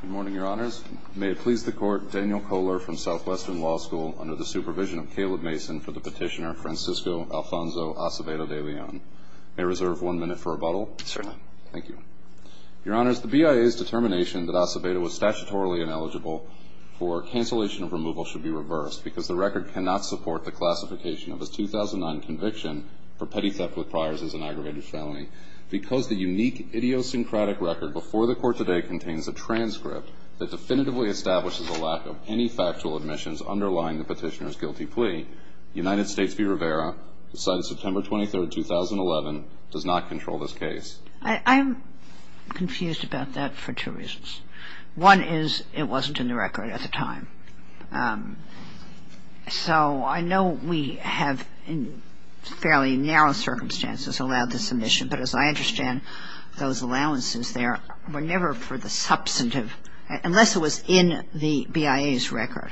Good morning, Your Honors. May it please the Court, Daniel Kohler from Southwestern Law School, under the supervision of Caleb Mason, for the petitioner Francisco Alfonso Acevedo De Leon. May I reserve one minute for rebuttal? Certainly. Thank you. Your Honors, the BIA's determination that Acevedo was statutorily ineligible for cancellation of removal should be reversed because the record cannot support the classification of his 2009 conviction for petty theft with priors as an aggravated felony. Because the unique idiosyncratic record before the Court today contains a transcript that definitively establishes the lack of any factual admissions underlying the petitioner's guilty plea, United States v. Rivera, decided September 23, 2011, does not control this case. I'm confused about that for two reasons. One is it wasn't in the record at the time. So I know we have in fairly narrow circumstances allowed the submission, but as I understand those allowances there were never for the substantive unless it was in the BIA's record.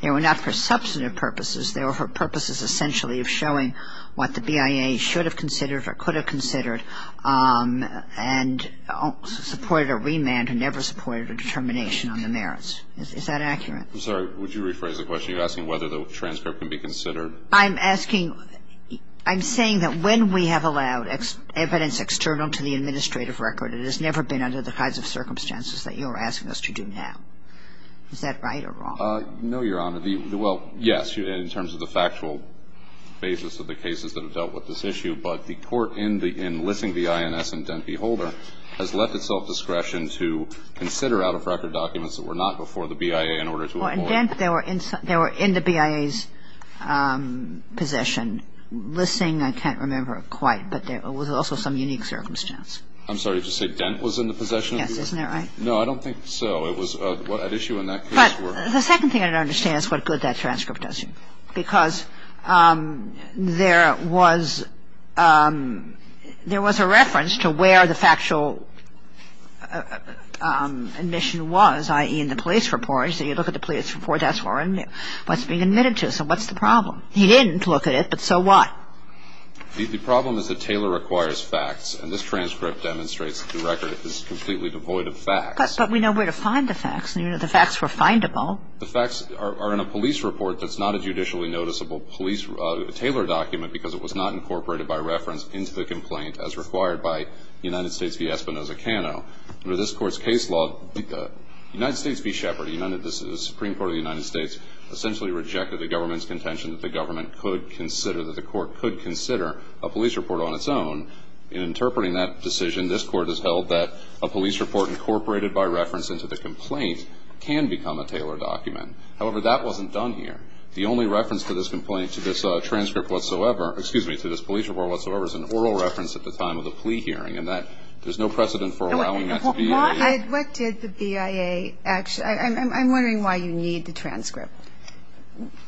They were not for substantive purposes. They were for purposes essentially of showing what the BIA should have considered or could have considered and supported a remand and never supported a determination on the merits. Is that accurate? I'm sorry. Would you rephrase the question? Are you asking whether the transcript can be considered? I'm asking – I'm saying that when we have allowed evidence external to the administrative record, it has never been under the kinds of circumstances that you are asking us to do now. Is that right or wrong? No, Your Honor. The – well, yes, in terms of the factual basis of the cases that have dealt with this issue, but the Court in listing the INS in Dent v. Holder has left itself discretion to consider out-of-record documents that were not before the BIA in order to apply. Well, in Dent, they were in the BIA's possession. Listing, I can't remember quite, but there was also some unique circumstance. I'm sorry. Did you say Dent was in the possession of the INS? Yes. Isn't that right? No, I don't think so. It was – well, at issue in that case were – Well, the second thing I don't understand is what good that transcript does you. Because there was – there was a reference to where the factual admission was, i.e., in the police report. So you look at the police report, that's where – what's being admitted to. So what's the problem? He didn't look at it, but so what? The problem is that Taylor requires facts, and this transcript demonstrates that the record is completely devoid of facts. But we know where to find the facts. The facts were findable. The facts are in a police report that's not a judicially noticeable police – Taylor document, because it was not incorporated by reference into the complaint as required by United States v. Espinoza-Cano. Under this Court's case law, the United States v. Sheppard, the Supreme Court of the United States, essentially rejected the government's contention that the government could consider – that the Court could consider a police report on its own. In interpreting that decision, this Court has held that a police report incorporated by reference into the complaint can become a Taylor document. However, that wasn't done here. The only reference to this complaint, to this transcript whatsoever – excuse me, to this police report whatsoever is an oral reference at the time of the plea hearing. And that – there's no precedent for allowing that to be – What did the BIA actually – I'm wondering why you need the transcript.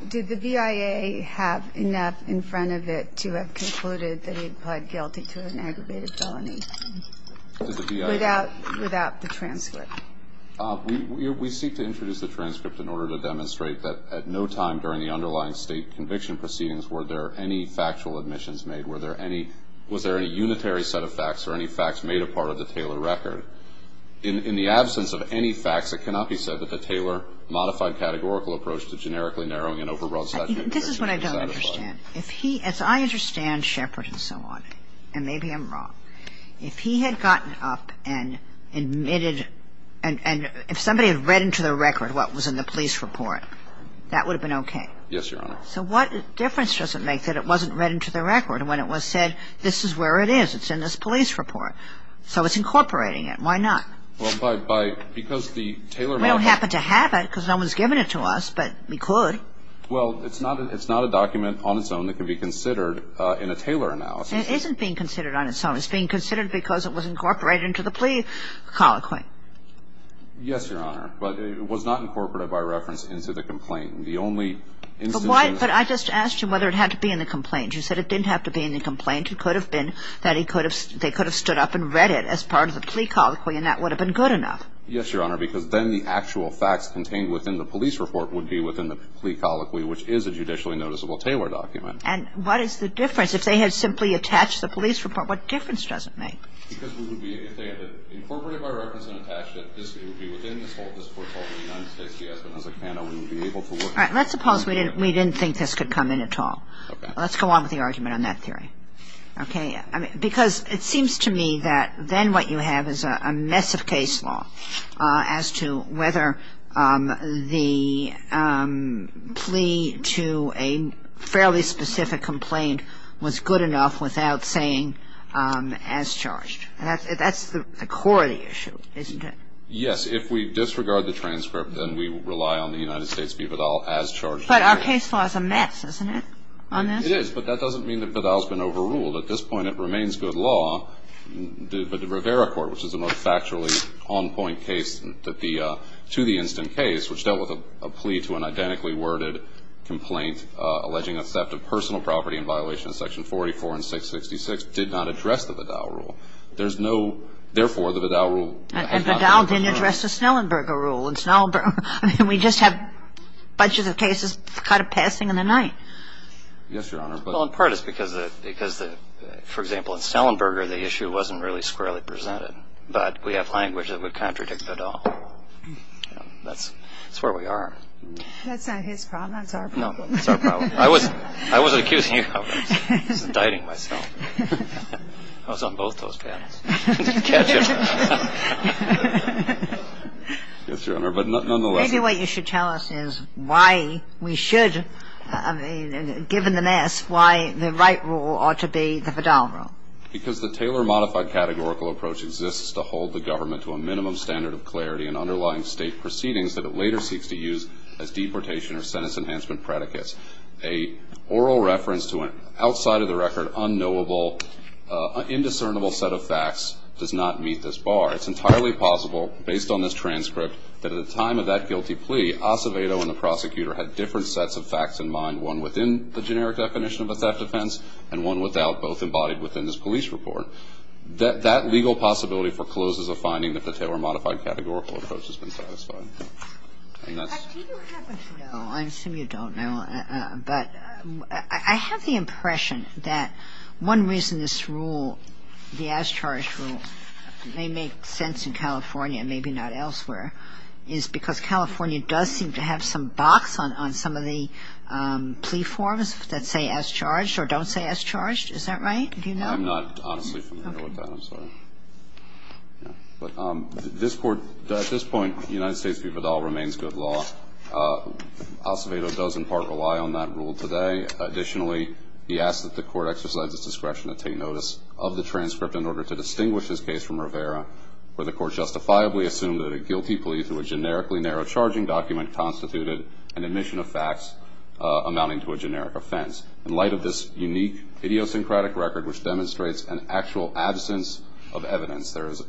Did the BIA have enough in front of it to have concluded that he had pled guilty to an aggravated felony without the transcript? We seek to introduce the transcript in order to demonstrate that at no time during the underlying state conviction proceedings were there any factual admissions made. Were there any – was there any unitary set of facts or any facts made a part of the Taylor record? In the absence of any facts, it cannot be said that the Taylor modified categorical approach to generically narrowing an overbroad statute of limitations was satisfied. This is what I don't understand. If he – as I understand Shepard and so on, and maybe I'm wrong, if he had gotten up and admitted – and if somebody had read into the record what was in the police report, that would have been okay. Yes, Your Honor. So what difference does it make that it wasn't read into the record when it was said, This is where it is. It's in this police report. So it's incorporating it. Why not? Well, by – because the Taylor modified – We don't happen to have it because no one's given it to us, but we could. Well, it's not a document on its own that can be considered in a Taylor analysis. It isn't being considered on its own. It's being considered because it was incorporated into the plea colloquy. Yes, Your Honor. But it was not incorporated by reference into the complaint. The only instance in the – But why – but I just asked you whether it had to be in the complaint. You said it didn't have to be in the complaint. It could have been that he could have – they could have stood up and read it as part of the plea colloquy, and that would have been good enough. Yes, Your Honor, because then the actual facts contained within the police report would be within the plea colloquy, which is a judicially noticeable Taylor document. And what is the difference? If they had simply attached the police report, what difference does it make? Because we would be – if they had incorporated by reference and attached it, it would be within this whole – this whole United States case. But as a panel, we would be able to work – All right. Let's suppose we didn't think this could come in at all. Okay. Let's go on with the argument on that theory. Okay. Because it seems to me that then what you have is a mess of case law as to whether the plea to a fairly specific complaint was good enough without saying as charged. That's the core of the issue, isn't it? Yes. If we disregard the transcript, then we rely on the United States view at all as charged. But our case law is a mess, isn't it, on this? It is. But that doesn't mean that Vidal's been overruled. At this point, it remains good law. But the Rivera Court, which is the most factually on-point case that the – to the instant case, which dealt with a plea to an identically worded complaint alleging a theft of personal property in violation of Section 44 and 666, did not address the Vidal rule. There's no – therefore, the Vidal rule – And Vidal didn't address the Snellenberger rule. I mean, we just have bunches of cases kind of passing in the night. Yes, Your Honor. Well, in part, it's because the – because the – for example, in Snellenberger, the issue wasn't really squarely presented. But we have language that would contradict Vidal. That's where we are. That's not his problem. That's our problem. No, it's our problem. I was accusing you of it. I was indicting myself. I was on both those panels. I didn't catch it. Yes, Your Honor. But nonetheless – Maybe what you should tell us is why we should – I mean, given the mess, why the right rule ought to be the Vidal rule. Because the tailor-modified categorical approach exists to hold the government to a minimum standard of clarity in underlying State proceedings that it later seeks to use as deportation or sentence enhancement predicates. A oral reference to an outside-of-the-record, unknowable, indiscernible set of facts does not meet this bar. It's entirely possible, based on this transcript, that at the time of that guilty plea, Acevedo and the prosecutor had different sets of facts in mind, one within the generic definition of a theft offense and one without, both embodied within this police report. That legal possibility forecloses a finding that the tailor-modified categorical approach has been satisfied. And that's – I do happen to know – I assume you don't know – but I have the impression that one reason this rule, the as-charged rule, may make sense in California and maybe not elsewhere is because California does seem to have some box on some of the plea forms that say as-charged or don't say as-charged. Is that right? Do you know? I'm not honestly familiar with that. I'm sorry. But this Court – at this point, the United States v. Vidal remains good law. Acevedo does, in part, rely on that rule today. Additionally, he asks that the Court exercise its discretion to take notice of the transcript in order to distinguish his case from Rivera, where the Court justifiably assumed that a guilty plea through a generically narrow charging document constituted an admission of facts amounting to a generic offense. In light of this unique idiosyncratic record, which demonstrates an actual absence of evidence – there is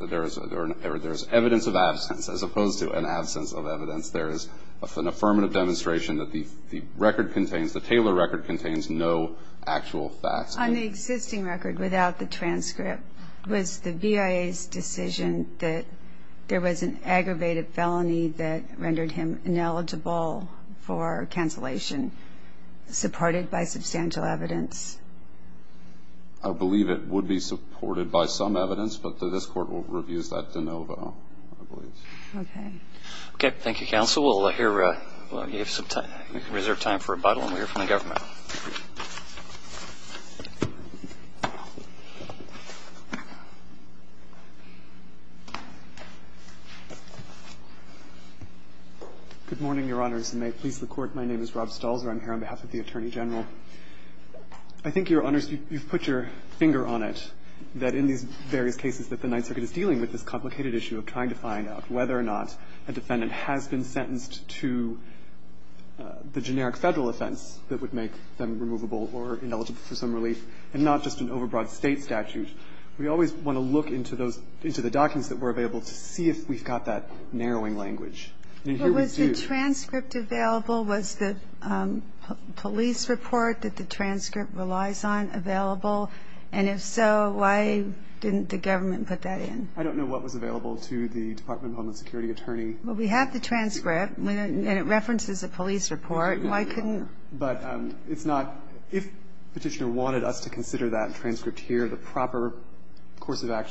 evidence of absence as opposed to an absence of evidence. There is an affirmative demonstration that the record contains – the Taylor record contains no actual facts. On the existing record without the transcript, was the VIA's decision that there was an aggravated felony that rendered him ineligible for cancellation supported by substantial evidence? I believe it would be supported by some evidence, but this Court will review that de novo, I believe. Okay. Thank you, counsel. We'll reserve time for rebuttal, and we'll hear from the government. Good morning, Your Honors, and may it please the Court. My name is Rob Stolzer. I'm here on behalf of the Attorney General. I think, Your Honors, you've put your finger on it, that in these various cases that the Ninth Circuit is dealing with this complicated issue of trying to find out whether or not a defendant has been sentenced to the generic Federal offense that would make them removable or ineligible for some relief, and not just an overbroad State statute, we always want to look into those – into the documents that were available to see if we've got that narrowing language. And here we do. But was the transcript available? Was the police report that the transcript relies on available? And if so, why didn't the government put that in? I don't know what was available to the Department of Homeland Security attorney. Well, we have the transcript, and it references a police report. Why couldn't – But it's not – if Petitioner wanted us to consider that transcript here, the proper So if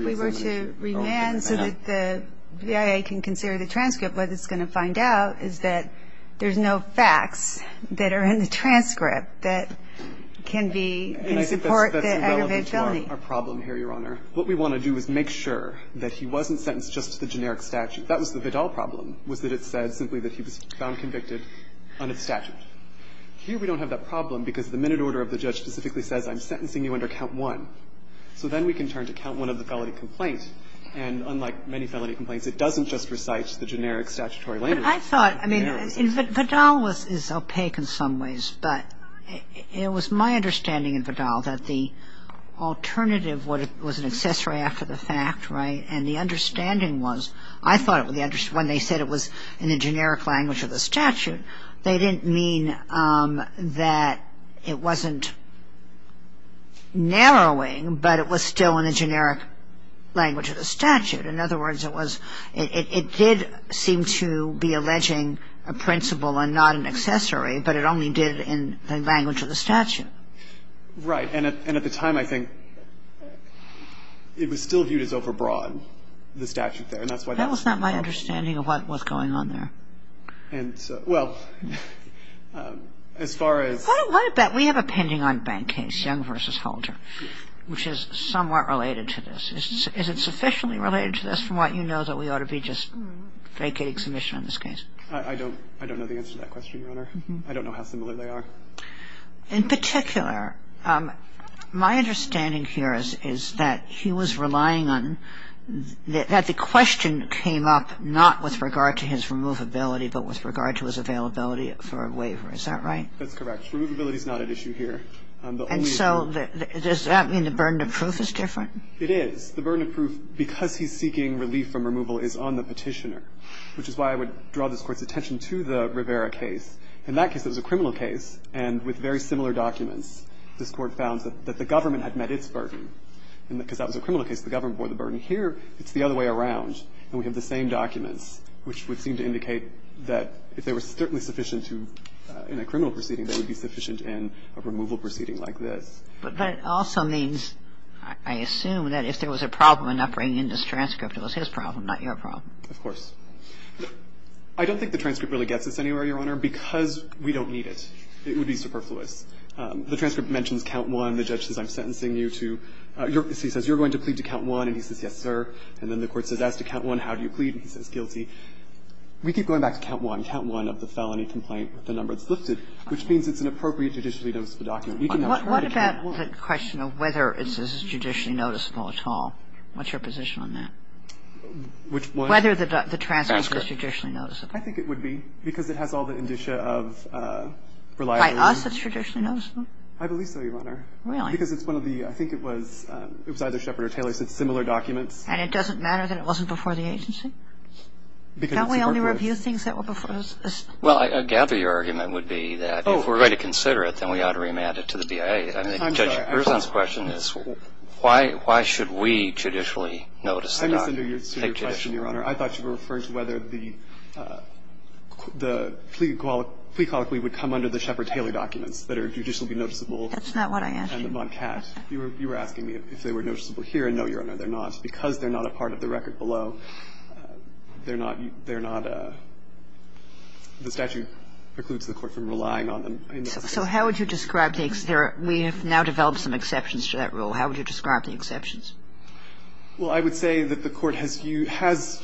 we were to remand so that the V.I.A. can consider the transcript, what it's going to find out is that there's no facts that are in the transcript that can be – can support the aggravated felony. And I think that's irrelevant to our problem here, Your Honor. What we want to do is make sure that he wasn't sentenced just to the generic statute. That was the Vidal problem, was that it said simply that he was found convicted under the statute. Here we don't have that problem because the minute order of the judge specifically says I'm sentencing you under count one. So then we can turn to count one of the felony complaints, and unlike many felony complaints, it doesn't just recite the generic statutory language. But I thought – I mean, Vidal is opaque in some ways, but it was my understanding in Vidal that the alternative was an accessory after the fact, right? And the understanding was – I thought it was the – when they said it was in the generic language of the statute, they didn't mean that it wasn't narrowing but it was still in the generic language of the statute. In other words, it was – it did seem to be alleging a principle and not an accessory, but it only did it in the language of the statute. Right. And at the time, I think it was still viewed as overbroad, the statute there. And that's why that's – That was not my understanding of what was going on there. And – well, as far as – What about – we have a pending on bank case, Young v. Halter, which is somewhat related to this. Is it sufficiently related to this from what you know that we ought to be just vacating submission on this case? I don't – I don't know the answer to that question, Your Honor. I don't know how similar they are. In particular, my understanding here is that he was relying on – that the question came up not with regard to his removability but with regard to his availability for a waiver. Is that right? That's correct. Removability is not at issue here. And so does that mean the burden of proof is different? It is. The burden of proof, because he's seeking relief from removal, is on the Petitioner, which is why I would draw this Court's attention to the Rivera case. In that case, it was a criminal case, and with very similar documents, this Court found that the government had met its burden, because that was a criminal case. The government bore the burden. Here, it's the other way around, and we have the same documents, which would seem to indicate that if they were certainly sufficient to – in a criminal proceeding, they would be sufficient in a removal proceeding like this. But that also means, I assume, that if there was a problem in upbringing this transcript, it was his problem, not your problem. Of course. I don't think the transcript really gets us anywhere, Your Honor, because we don't need it. It would be superfluous. The transcript mentions count one. The judge says, I'm sentencing you to – he says, you're going to plead to count one. And he says, yes, sir. And then the Court says, as to count one, how do you plead? And he says, guilty. We keep going back to count one, count one of the felony complaint with the number that's listed, which means it's an appropriate judicially noticeable document. We can now try to count one. Kagan. What about the question of whether this is judicially noticeable at all? What's your position on that? Which one? Whether the transcript is judicially noticeable. I think it would be, because it has all the indicia of reliability. By us, it's judicially noticeable? I believe so, Your Honor. Really? Because it's one of the – I think it was – it was either Shepard or Taylor said similar documents. And it doesn't matter that it wasn't before the agency? Can't we only review things that were before us? Well, I gather your argument would be that if we're ready to consider it, then we ought to remand it to the BIA. I mean, Judge Gerson's question is why should we judicially notice the document? I misunderstood your question, Your Honor. I thought you were referring to whether the plea colloquy would come under the Shepard-Taylor documents that are judicially noticeable. That's not what I asked. And the Moncat. You were asking me if they were noticeable here. And no, Your Honor, they're not. Because they're not a part of the record below, they're not – they're not – the statute precludes the Court from relying on them. So how would you describe the – we have now developed some exceptions to that rule. How would you describe the exceptions? Well, I would say that the Court has viewed – has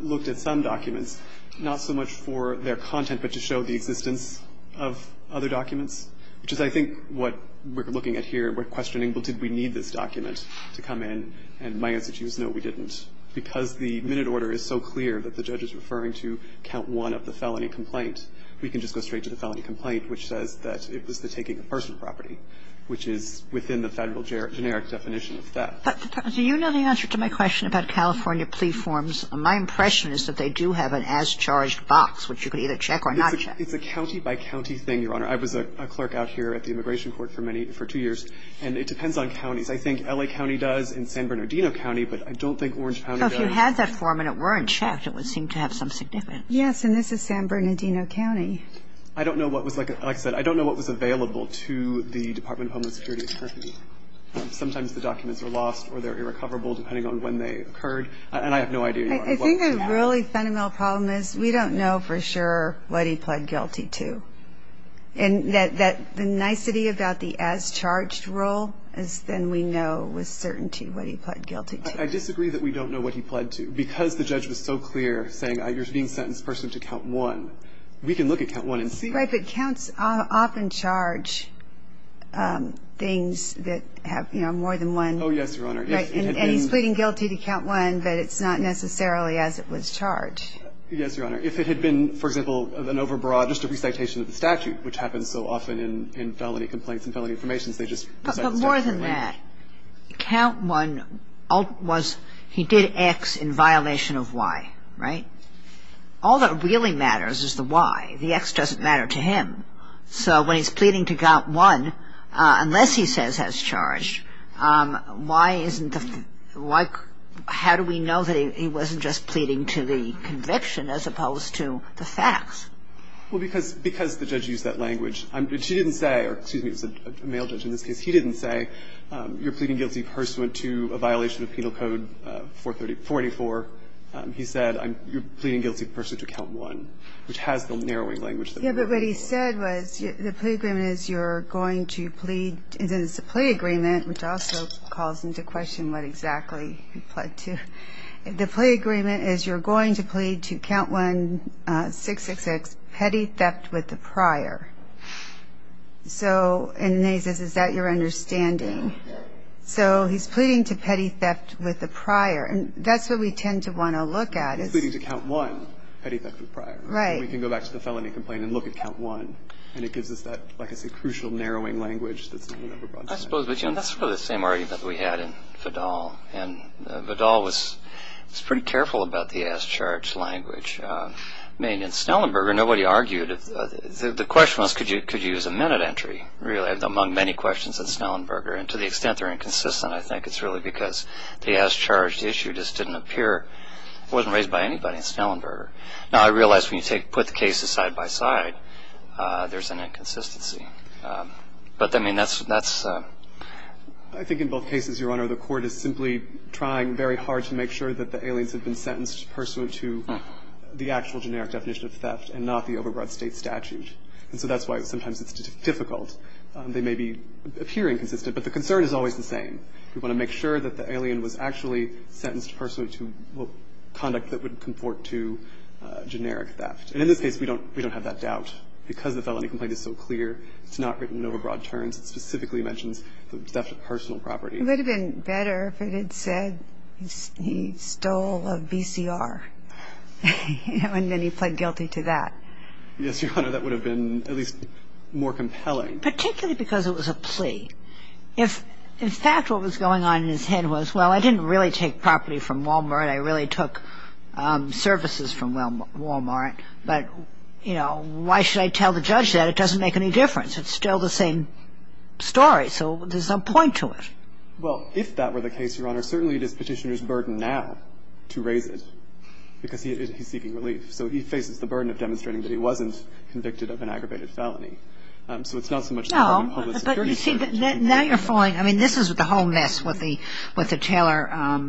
looked at some documents, not so much for their content, but to show the existence of other documents, which is, I think, what we're looking at here. We're questioning, well, did we need this document to come in? And my answer to you is no, we didn't. Because the minute order is so clear that the judge is referring to count one of the felony complaint, we can just go straight to the felony complaint, which says that it was the taking of personal property, which is within the Federal generic definition of theft. But do you know the answer to my question about California plea forms? My impression is that they do have an as-charged box, which you can either check or not check. It's a county-by-county thing, Your Honor. I was a clerk out here at the Immigration Court for many – for two years. And it depends on counties. I think L.A. County does and San Bernardino County, but I don't think Orange County does. So if you had that form and it weren't checked, it would seem to have some significance. Yes, and this is San Bernardino County. I don't know what was – like I said, I don't know what was available to the Department of Homeland Security. Sometimes the documents are lost or they're irrecoverable, depending on when they occurred. And I have no idea, Your Honor. I think a really fundamental problem is we don't know for sure what he pled guilty to. And that the nicety about the as-charged rule is then we know with certainty what he pled guilty to. I disagree that we don't know what he pled to. Because the judge was so clear saying you're being sentenced personally to count one, we can look at count one and see. Right. But counts often charge things that have, you know, more than one. Oh, yes, Your Honor. And he's pleading guilty to count one, but it's not necessarily as it was charged. Yes, Your Honor. So, if it had been, for example, an overbroad, just a recitation of the statute, which happens so often in felony complaints and felony information, they just recited it separately. But more than that, count one was he did X in violation of Y. Right? All that really matters is the Y. The X doesn't matter to him. So when he's pleading to count one, unless he says as-charged, why isn't the – why – how do we know that he wasn't just pleading to the conviction as opposed to the facts? Well, because the judge used that language. She didn't say – or, excuse me, it was a male judge in this case. He didn't say, you're pleading guilty pursuant to a violation of Penal Code 434. He said, you're pleading guilty pursuant to count one, which has the narrowing language that we heard. Yes, but what he said was the plea agreement is you're going to plead – and then there's the plea agreement, which also calls into question what exactly he pled to. The plea agreement is you're going to plead to count one, 666, petty theft with the prior. So – and he says, is that your understanding? So he's pleading to petty theft with the prior. And that's what we tend to want to look at. He's pleading to count one, petty theft with the prior. Right. We can go back to the felony complaint and look at count one, and it gives us that, like I said, crucial narrowing language that's never been brought to mind. I suppose, but that's sort of the same argument that we had in Vidal. And Vidal was pretty careful about the as-charged language. I mean, in Snellenberger, nobody argued. The question was, could you use a minute entry, really, among many questions in Snellenberger. And to the extent they're inconsistent, I think it's really because the as-charged issue just didn't appear – it wasn't raised by anybody in Snellenberger. Now, I realize when you take – put the cases side by side, there's an inconsistency. But, I mean, that's – that's – I think in both cases, Your Honor, the court is simply trying very hard to make sure that the aliens have been sentenced pursuant to the actual generic definition of theft and not the overbroad state statute. And so that's why sometimes it's difficult. They may be – appear inconsistent, but the concern is always the same. We want to make sure that the alien was actually sentenced pursuant to conduct that would comport to generic theft. And in this case, we don't – we don't have that doubt because the felony complaint is so clear. It's not written in overbroad terms. It specifically mentions the theft of personal property. It would have been better if it had said he stole a VCR, you know, and then he pled guilty to that. Yes, Your Honor. That would have been at least more compelling. Particularly because it was a plea. If, in fact, what was going on in his head was, well, I didn't really take property from Wal-Mart. I really took services from Wal-Mart. But, you know, why should I tell the judge that? It doesn't make any difference. It's still the same story. So there's no point to it. Well, if that were the case, Your Honor, certainly it is Petitioner's burden now to raise it because he's seeking relief. So he faces the burden of demonstrating that he wasn't convicted of an aggravated felony. So it's not so much the problem of publicity. No, but you see, now you're falling – I mean, this is the whole mess with the Taylor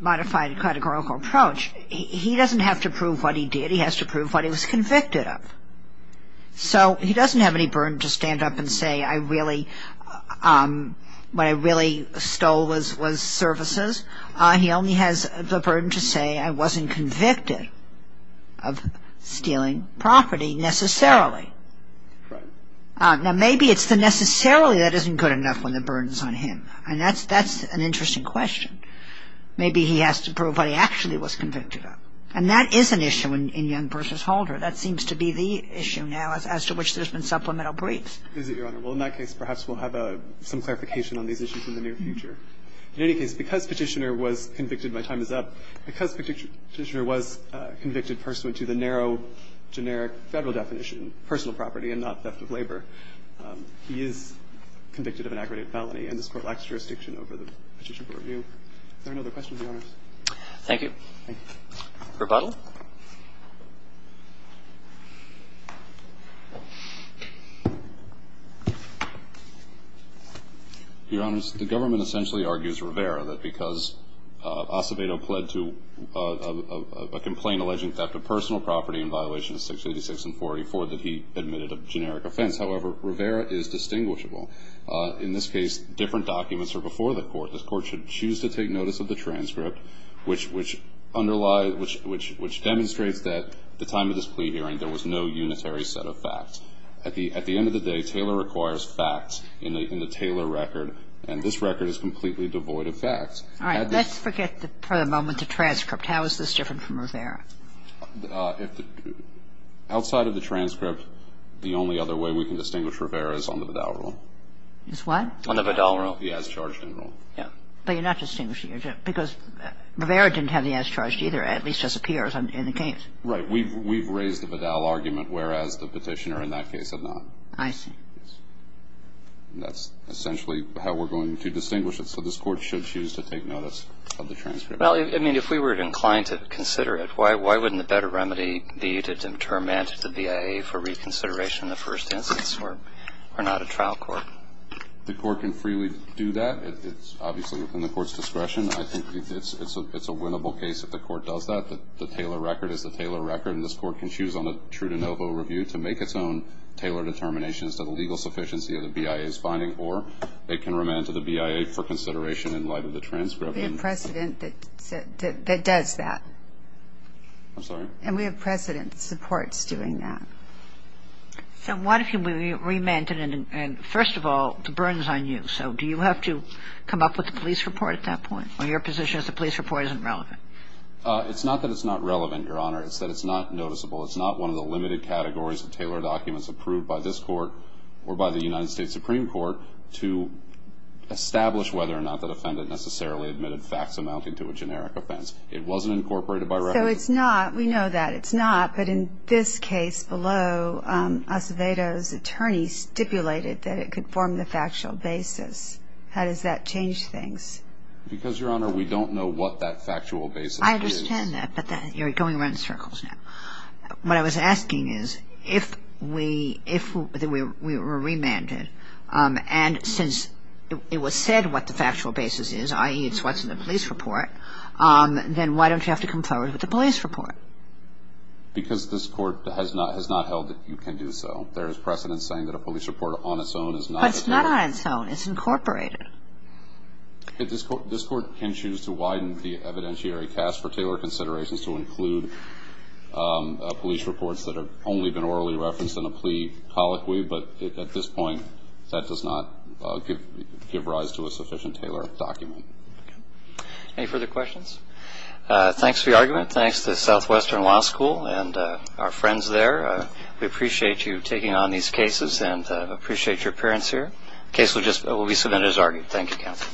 modified categorical approach. He doesn't have to prove what he did. He has to prove what he was convicted of. So he doesn't have any burden to stand up and say I really – what I really stole was services. He only has the burden to say I wasn't convicted of stealing property necessarily. Now, maybe it's the necessarily that isn't good enough when the burden is on him. And that's an interesting question. Maybe he has to prove what he actually was convicted of. And that is an issue in Young v. Holder. That seems to be the issue now as to which there's been supplemental briefs. Is it, Your Honor? Well, in that case, perhaps we'll have some clarification on these issues in the near future. In any case, because Petitioner was convicted – my time is up – because Petitioner was convicted pursuant to the narrow generic Federal definition, personal property and not theft of labor, he is convicted of an aggravated felony. And this Court lacks jurisdiction over the petition for review. Is there another question, Your Honors? Thank you. Thank you. Rebuttal. Your Honors, the government essentially argues Rivera that because Acevedo pled to a complaint alleging theft of personal property in violations 686 and 484 that he admitted a generic offense. However, Rivera is distinguishable. In this case, different documents are before the Court. This Court should choose to take notice of the transcript, which underlies – which demonstrates that at the time of this plea hearing, there was no unitary set of facts. At the end of the day, Taylor requires facts in the Taylor record. And this record is completely devoid of facts. All right. Let's forget for a moment the transcript. How is this different from Rivera? If the – outside of the transcript, the only other way we can distinguish Rivera is on the Vidal rule. Is what? On the Vidal rule. The as-charged end rule. Yeah. But you're not distinguishing – because Rivera didn't have the as-charged either. It at least disappears in the case. Right. We've raised the Vidal argument, whereas the Petitioner in that case had not. I see. And that's essentially how we're going to distinguish it. So this Court should choose to take notice of the transcript. Well, I mean, if we were inclined to consider it, why wouldn't the better remedy be to determine the BIA for reconsideration in the first instance or not a trial court? The Court can freely do that. It's obviously within the Court's discretion. I think it's a winnable case if the Court does that. The Taylor record is the Taylor record. And this Court can choose on a Trudenovo review to make its own Taylor determinations to the legal sufficiency of the BIA's finding, or it can remand to the BIA for consideration in light of the transcript. We have precedent that does that. I'm sorry? And we have precedent that supports doing that. So what if you remand it, and first of all, the burden is on you. So do you have to come up with a police report at that point, or your position is the police report isn't relevant? It's not that it's not relevant, Your Honor. It's that it's not noticeable. It's not one of the limited categories of Taylor documents approved by this Court or by the United States Supreme Court to establish whether or not the defendant necessarily admitted facts amounting to a generic offense. It wasn't incorporated by record. So it's not. We know that. It's not. But in this case below, Acevedo's attorney stipulated that it could form the factual basis. How does that change things? Because, Your Honor, we don't know what that factual basis is. I understand that, but you're going around in circles now. What I was asking is if we were remanded, and since it was said what the factual basis is, i.e., it's what's in the police report, then why don't you have to come forward with the police report? Because this Court has not held that you can do so. There is precedent saying that a police report on its own is not the case. But it's not on its own. It's incorporated. This Court can choose to widen the evidentiary cast for Taylor considerations to include police reports that have only been orally referenced in a plea colloquy, but at this point that does not give rise to a sufficient Taylor document. Any further questions? Thanks for your argument. Thanks to Southwestern Law School and our friends there. We appreciate you taking on these cases and appreciate your appearance here. Thank you, counsel.